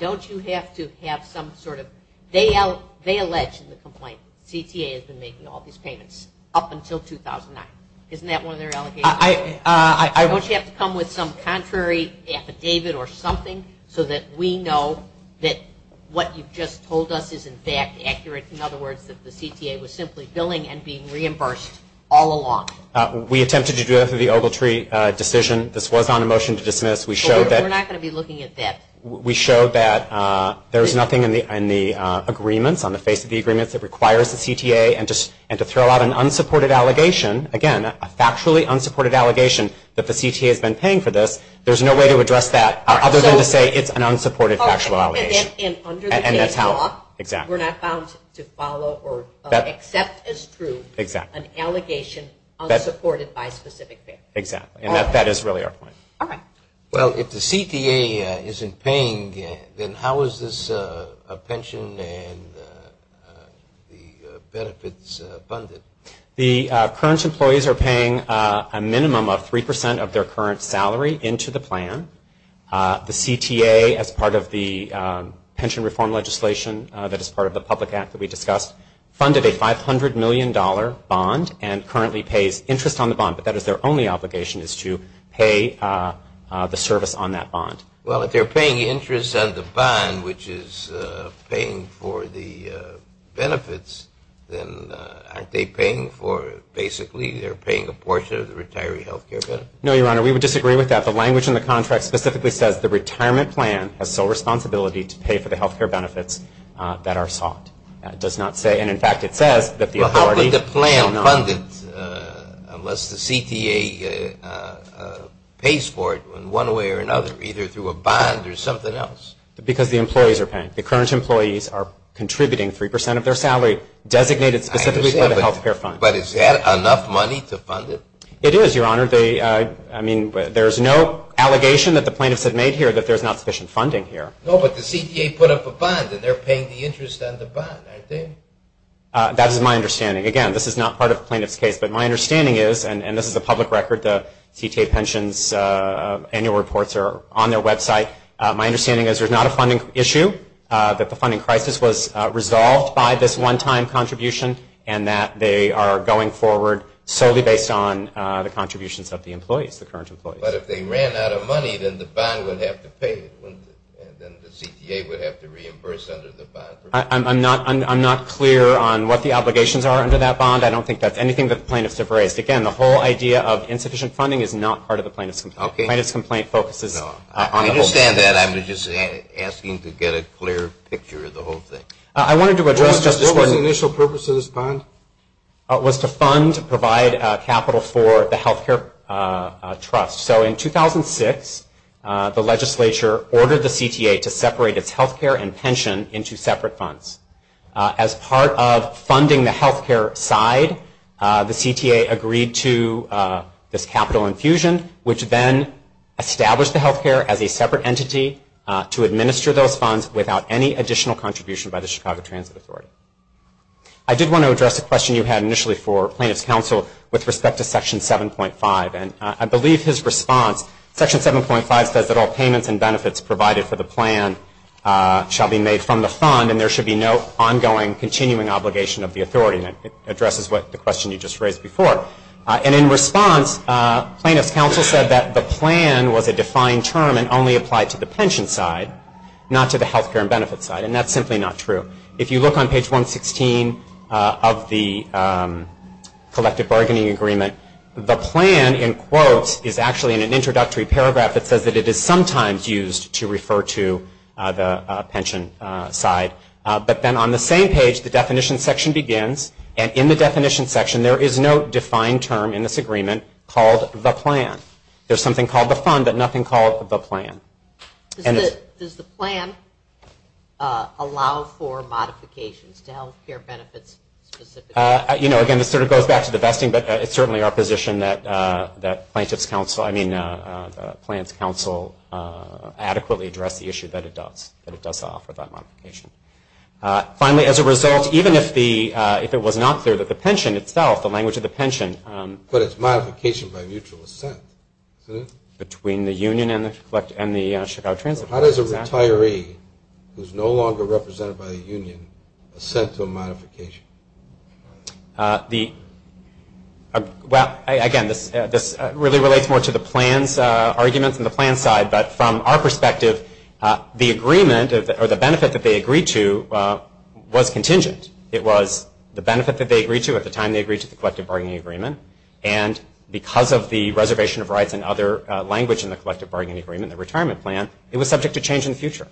don't you have to have some sort of they allege in the complaint that the CTA has been making all these payments up until 2009? Isn't that one of their allegations? Don't you have to come with some contrary affidavit or something so that we know that what you've just told us is, in fact, accurate? In other words, that the CTA was simply billing and being reimbursed all along? We attempted to do that through the Ogletree decision. This was on a motion to dismiss. We showed that. We're not going to be looking at that. We showed that there was nothing in the agreements, on the face of the agreements, that requires the CTA. And to throw out an unsupported allegation, again, a factually unsupported allegation that the CTA has been paying for this, there's no way to address that other than to say it's an unsupported factual allegation. And under the case law, we're not bound to follow or accept as true an allegation unsupported by specific pay. Exactly. And that is really our point. All right. Well, if the CTA isn't paying, then how is this a pension and the benefits funded? The current employees are paying a minimum of 3% of their current salary into the plan. The CTA, as part of the pension reform legislation, that is part of the public act that we discussed, funded a $500 million bond and currently pays interest on the bond. But that is their only obligation is to pay the service on that bond. Well, if they're paying interest on the bond, which is paying for the benefits, then aren't they paying for basically they're paying a portion of the retiree health care benefits? No, Your Honor, we would disagree with that. The language in the contract specifically says the retirement plan has sole responsibility to pay for the health care benefits that are sought. It does not say, and in fact it says that the authority. Well, how would the plan fund it unless the CTA pays for it in one way or another, either through a bond or something else? Because the employees are paying. The current employees are contributing 3% of their salary designated specifically for the health care fund. But is that enough money to fund it? It is, Your Honor. There's no allegation that the plaintiffs have made here that there's not sufficient funding here. No, but the CTA put up a bond, and they're paying the interest on the bond, aren't they? That is my understanding. Again, this is not part of the plaintiff's case. But my understanding is, and this is a public record, the CTA pensions annual reports are on their website. My understanding is there's not a funding issue, that the funding crisis was resolved by this one-time contribution, and that they are going forward solely based on the contributions of the employees, the current employees. But if they ran out of money, then the bond would have to pay it, wouldn't it? Then the CTA would have to reimburse under the bond. I'm not clear on what the obligations are under that bond. I don't think that's anything that the plaintiffs have raised. Again, the whole idea of insufficient funding is not part of the plaintiff's complaint. Okay. The plaintiff's complaint focuses on the whole thing. I understand that. I'm just asking to get a clear picture of the whole thing. I wanted to address just this morning. What was the initial purpose of this bond? It was to fund, provide capital for the health care trust. So in 2006, the legislature ordered the CTA to separate its health care and pension into separate funds. As part of funding the health care side, the CTA agreed to this capital infusion, which then established the health care as a separate entity to administer those funds without any additional contribution by the Chicago Transit Authority. I did want to address a question you had initially for plaintiff's counsel with respect to Section 7.5. And I believe his response, Section 7.5 says that all payments and benefits provided for the plan shall be made from the fund, and there should be no ongoing continuing obligation of the authority. And it addresses the question you just raised before. And in response, plaintiff's counsel said that the plan was a defined term and only applied to the pension side, not to the health care and benefits side. And that's simply not true. If you look on page 116 of the collective bargaining agreement, the plan in quotes is actually in an introductory paragraph that says that it is sometimes used to refer to the pension side. But then on the same page, the definition section begins. And in the definition section, there is no defined term in this agreement called the plan. There's something called the fund, but nothing called the plan. Does the plan allow for modifications to health care benefits specifically? You know, again, this sort of goes back to the vesting, but it's certainly our position that plaintiff's counsel, I mean, plaintiff's counsel adequately address the issue that it does, that it does offer that modification. Finally, as a result, even if it was not clear that the pension itself, the language of the pension. But it's modification by mutual assent, isn't it? Between the union and the Chicago Transit Association. How does a retiree who is no longer represented by the union assent to a modification? Well, again, this really relates more to the plan's arguments and the plan's side. But from our perspective, the agreement or the benefit that they agreed to was contingent. It was the benefit that they agreed to at the time they agreed to the collective bargaining agreement. And because of the reservation of rights and other language in the collective bargaining agreement, the retirement plan, it was subject to change in the future.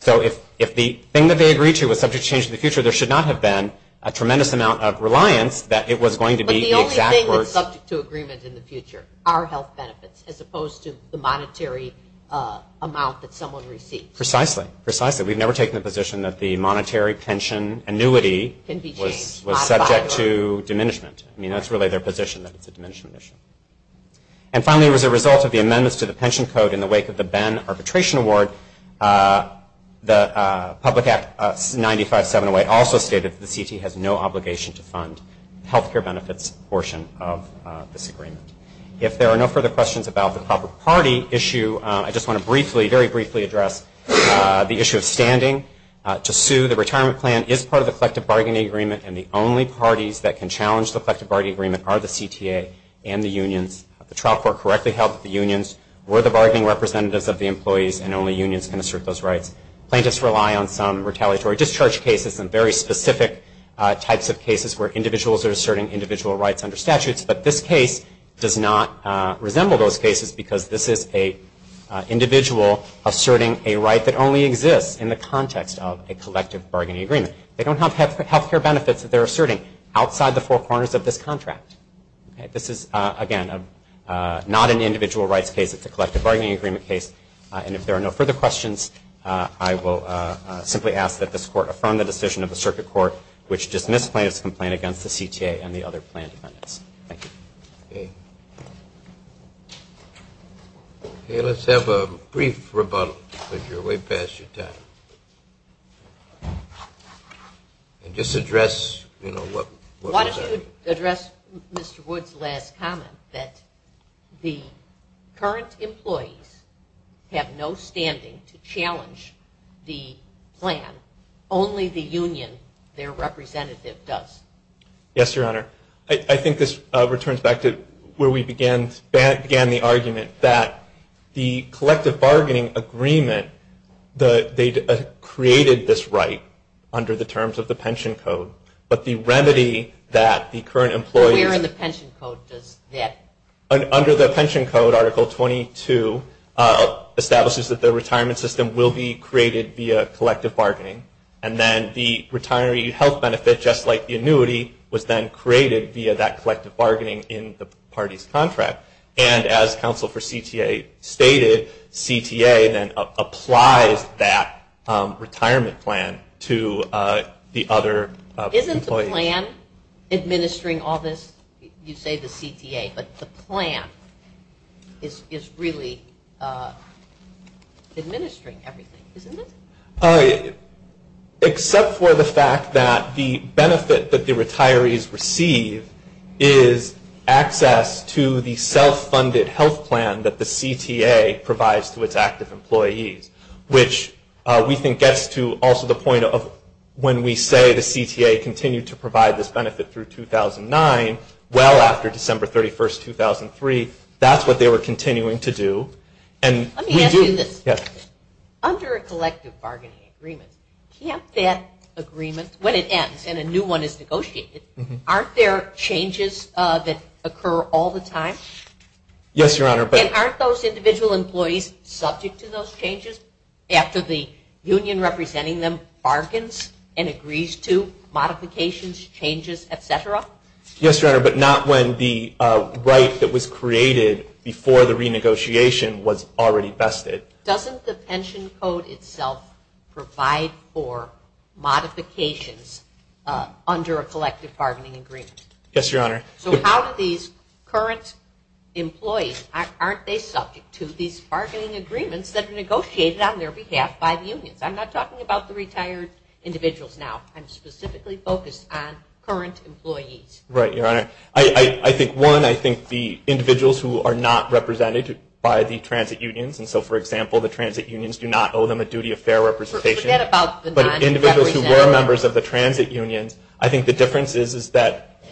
So if the thing that they agreed to was subject to change in the future, there should not have been a tremendous amount of reliance that it was going to be the exact words. But the only thing that's subject to agreement in the future are health benefits, as opposed to the monetary amount that someone received. Precisely. Precisely. We've never taken the position that the monetary pension annuity was subject to diminishment. I mean, that's really their position, that it's a diminishment issue. And finally, as a result of the amendments to the pension code in the wake of the Benn Arbitration Award, the Public Act 95708 also stated that the CT has no obligation to fund health care benefits portion of this agreement. If there are no further questions about the public party issue, I just want to briefly, very briefly address the issue of standing to sue. The retirement plan is part of the collective bargaining agreement, and the only parties that can challenge the collective bargaining agreement are the CTA and the unions. The trial court correctly held that the unions were the bargaining representatives of the employees and only unions can assert those rights. Plaintiffs rely on some retaliatory discharge cases and very specific types of cases where individuals are asserting individual rights under statutes. But this case does not resemble those cases because this is an individual asserting a right that only exists in the context of a collective bargaining agreement. They don't have health care benefits that they're asserting outside the four corners of this contract. This is, again, not an individual rights case. It's a collective bargaining agreement case. And if there are no further questions, I will simply ask that this court affirm the decision of the circuit court which dismiss plaintiffs' complaint against the CTA and the other plan defendants. Thank you. Okay. Okay, let's have a brief rebuttal because you're way past your time. And just address, you know, what was our... Why don't you address Mr. Wood's last comment that the current employees have no standing to challenge the plan, only the union, their representative, does? Yes, Your Honor. I think this returns back to where we began the argument that the collective bargaining agreement, they created this right under the terms of the pension code. But the remedy that the current employees... Where in the pension code does that... And then the retiree health benefit, just like the annuity, was then created via that collective bargaining in the party's contract. And as counsel for CTA stated, CTA then applies that retirement plan to the other employees. Isn't the plan administering all this? You say the CTA, but the plan is really administering everything, isn't it? Except for the fact that the benefit that the retirees receive is access to the self-funded health plan that the CTA provides to its active employees, which we think gets to also the point of when we say the CTA continued to provide this benefit through 2009, well after December 31st, 2003, that's what they were continuing to do. Let me ask you this. Under a collective bargaining agreement, can't that agreement, when it ends and a new one is negotiated, aren't there changes that occur all the time? Yes, Your Honor. And aren't those individual employees subject to those changes after the union representing them bargains and agrees to modifications, changes, et cetera? Yes, Your Honor, but not when the right that was created before the renegotiation was already vested. Doesn't the pension code itself provide for modifications under a collective bargaining agreement? Yes, Your Honor. So how do these current employees, aren't they subject to these bargaining agreements that are negotiated on their behalf by the unions? I'm not talking about the retired individuals now. I'm specifically focused on current employees. Right, Your Honor. I think, one, I think the individuals who are not represented by the transit unions, and so, for example, the transit unions do not owe them a duty of fair representation. Forget about the non-representative. But individuals who were members of the transit unions, I think the difference is that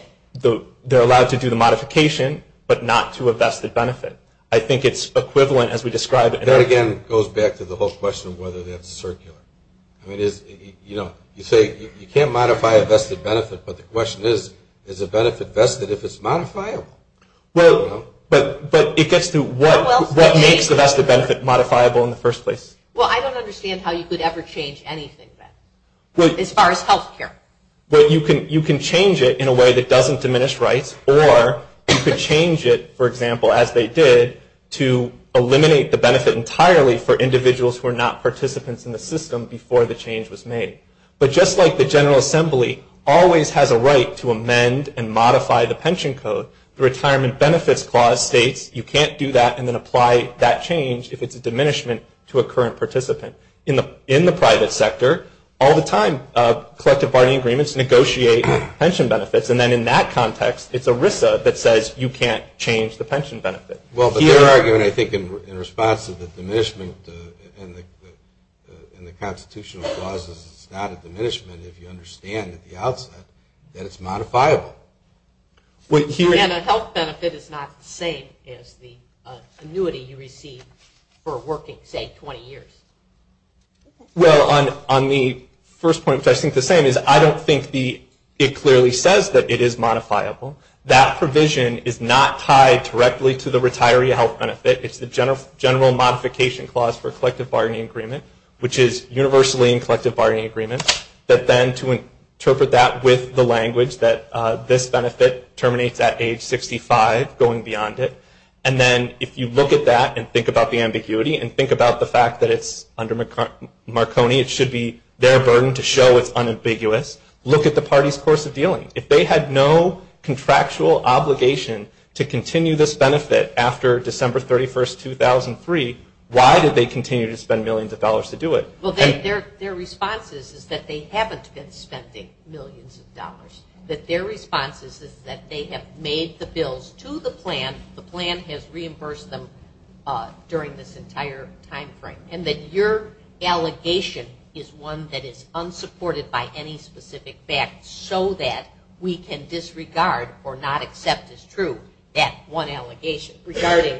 they're allowed to do the modification but not to a vested benefit. I think it's equivalent as we described. That, again, goes back to the whole question of whether that's circular. I mean, you say you can't modify a vested benefit, but the question is, is a benefit vested if it's modifiable? Well, but it gets to what makes the vested benefit modifiable in the first place. Well, I don't understand how you could ever change anything then as far as health care. Well, you can change it in a way that doesn't diminish rights, or you could change it, for example, to eliminate the benefit entirely for individuals who are not participants in the system before the change was made. But just like the General Assembly always has a right to amend and modify the pension code, the Retirement Benefits Clause states you can't do that and then apply that change if it's a diminishment to a current participant. In the private sector, all the time, collective bargaining agreements negotiate pension benefits, and then in that context, it's ERISA that says you can't change the pension benefit. Well, but they're arguing, I think, in response to the diminishment and the constitutional clauses it's not a diminishment if you understand at the outset that it's modifiable. And a health benefit is not the same as the annuity you receive for working, say, 20 years. Well, on the first point, which I think is the same, is I don't think it clearly says that it is modifiable. That provision is not tied directly to the retiree health benefit. It's the General Modification Clause for a collective bargaining agreement, which is universally in collective bargaining agreements, but then to interpret that with the language that this benefit terminates at age 65, going beyond it. And then if you look at that and think about the ambiguity and think about the fact that it's under Marconi, it should be their burden to show it's unambiguous. Look at the party's course of dealing. If they had no contractual obligation to continue this benefit after December 31, 2003, why did they continue to spend millions of dollars to do it? Well, their response is that they haven't been spending millions of dollars. That their response is that they have made the bills to the plan. The plan has reimbursed them during this entire time frame. And that your allegation is one that is unsupported by any specific fact so that we can disregard or not accept as true that one allegation regarding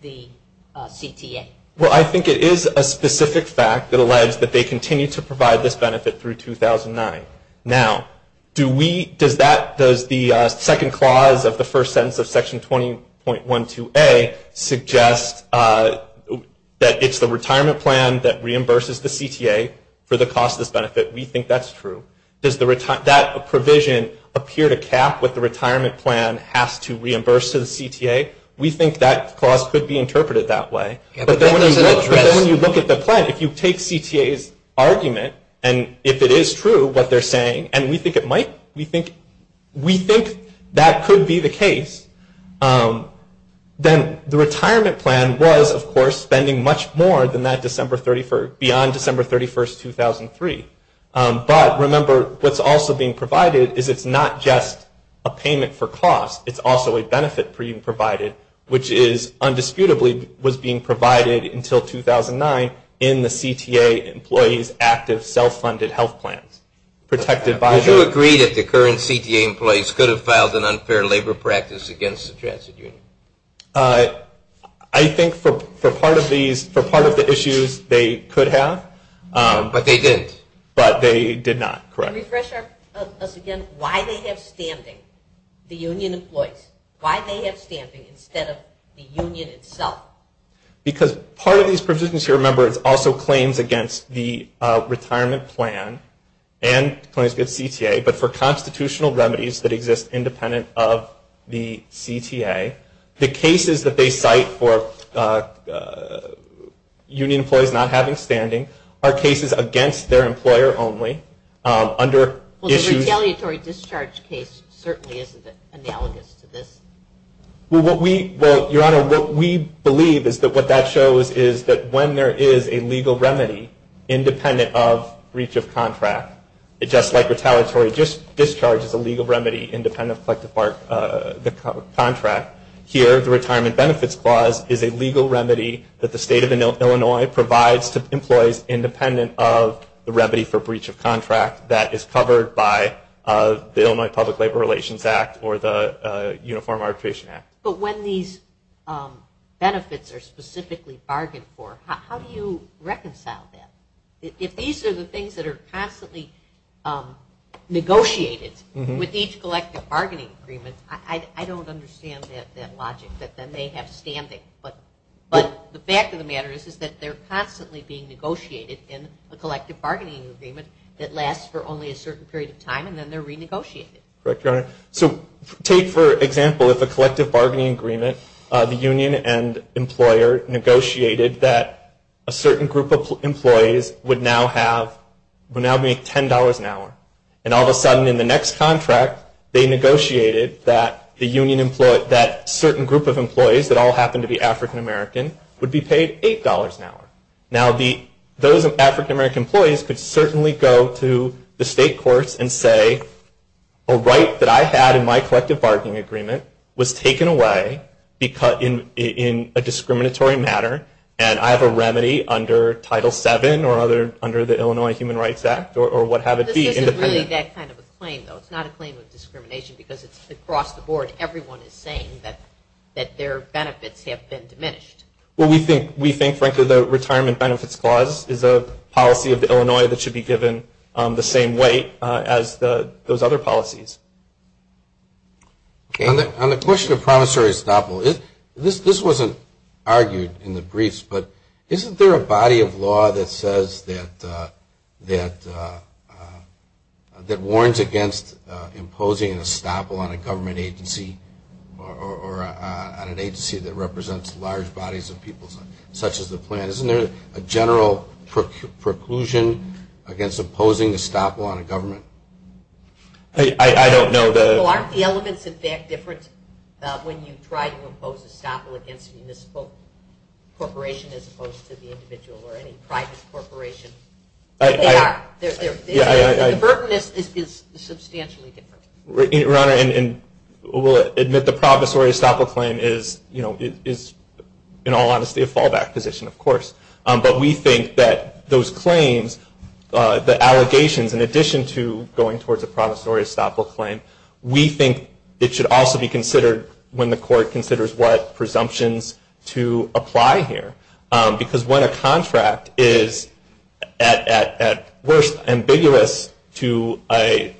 the CTA. Well, I think it is a specific fact that alleges that they continue to provide this benefit through 2009. Now, does the second clause of the first sentence of Section 20.12A suggest that it's the retirement plan that reimburses the CTA for the cost of this benefit? We think that's true. Does that provision appear to cap what the retirement plan has to reimburse to the CTA? We think that clause could be interpreted that way. But then when you look at the plan, if you take CTA's argument and if it is true what they're saying, and we think it might, we think that could be the case, then the retirement plan was, of course, spending much more than that beyond December 31, 2003. But remember, what's also being provided is it's not just a payment for cost. It's also a benefit being provided, which is undisputably was being provided until 2009 in the CTA employees' active self-funded health plans protected by the... Would you agree that the current CTA employees could have filed an unfair labor practice against the transit union? I think for part of these, for part of the issues, they could have. But they didn't. But they did not, correct. And refresh us again, why they have standing, the union employees, why they have standing instead of the union itself. Because part of these provisions here, remember, it's also claims against the retirement plan and claims against CTA, but for constitutional remedies that exist independent of the CTA. The cases that they cite for union employees not having standing are cases against their employer only under issues... Well, the retaliatory discharge case certainly isn't analogous to this. Well, Your Honor, what we believe is that what that shows is that when there is a legal remedy independent of breach of contract, just like retaliatory discharge is a legal remedy independent of collective part of the contract, here the retirement benefits clause is a legal remedy that the state of Illinois provides to employees independent of the remedy for breach of contract that is covered by the Illinois Public Labor Relations Act or the Uniform Arbitration Act. But when these benefits are specifically bargained for, how do you reconcile that? If these are the things that are constantly negotiated with each collective bargaining agreement, I don't understand that logic that then they have standing. But the fact of the matter is that they're constantly being negotiated in a collective bargaining agreement that lasts for only a certain period of time and then they're renegotiated. Correct, Your Honor. So take, for example, if a collective bargaining agreement, the union and employer negotiated that a certain group of employees would now make $10 an hour. And all of a sudden in the next contract they negotiated that certain group of employees that all happened to be African American would be paid $8 an hour. Now those African American employees could certainly go to the state courts and say a right that I had in my collective bargaining agreement was taken away in a discriminatory manner and I have a remedy under Title VII or under the Illinois Human Rights Act or what have it be. This isn't really that kind of a claim, though. It's not a claim of discrimination because it's across the board. Everyone is saying that their benefits have been diminished. Well, we think, frankly, the Retirement Benefits Clause is a policy of Illinois that should be given the same weight as those other policies. On the question of promissory estoppel, this wasn't argued in the briefs, but isn't there a body of law that warns against imposing an estoppel on a government agency or on an agency that represents large bodies of people such as the plant? Isn't there a general preclusion against imposing estoppel on a government? I don't know. Well, aren't the elements, in fact, different when you try to impose estoppel against a municipal corporation as opposed to the individual or any private corporation? They are. The burden is substantially different. We'll admit the promissory estoppel claim is, in all honesty, a fallback position, of course. But we think that those claims, the allegations, in addition to going towards a promissory estoppel claim, we think it should also be considered when the court considers what presumptions to apply here. Because when a contract is, at worst, ambiguous to a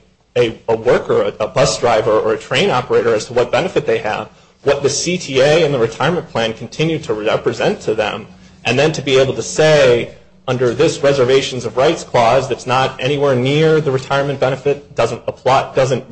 worker, a bus driver, or a train operator as to what benefit they have, what the CTA and the retirement plan continue to represent to them, and then to be able to say, under this Reservations of Rights Clause, that's not anywhere near the retirement benefit, doesn't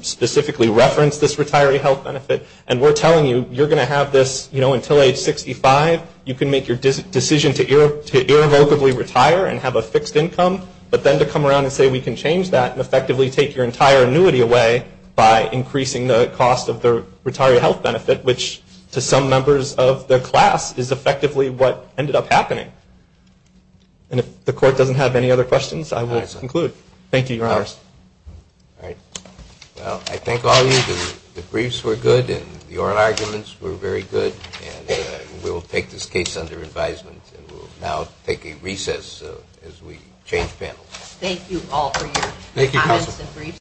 specifically reference this retiree health benefit, and we're telling you, you're going to have this until age 65. You can make your decision to irrevocably retire and have a fixed income, but then to come around and say, we can change that and effectively take your entire annuity away by increasing the cost of the retiree health benefit, which to some members of the class is effectively what ended up happening. And if the court doesn't have any other questions, I will conclude. Thank you, Your Honor. All right. Well, I thank all of you. The briefs were good, and the oral arguments were very good. And we will take this case under advisement, and we will now take a recess as we change panels. Thank you all for your comments and briefs.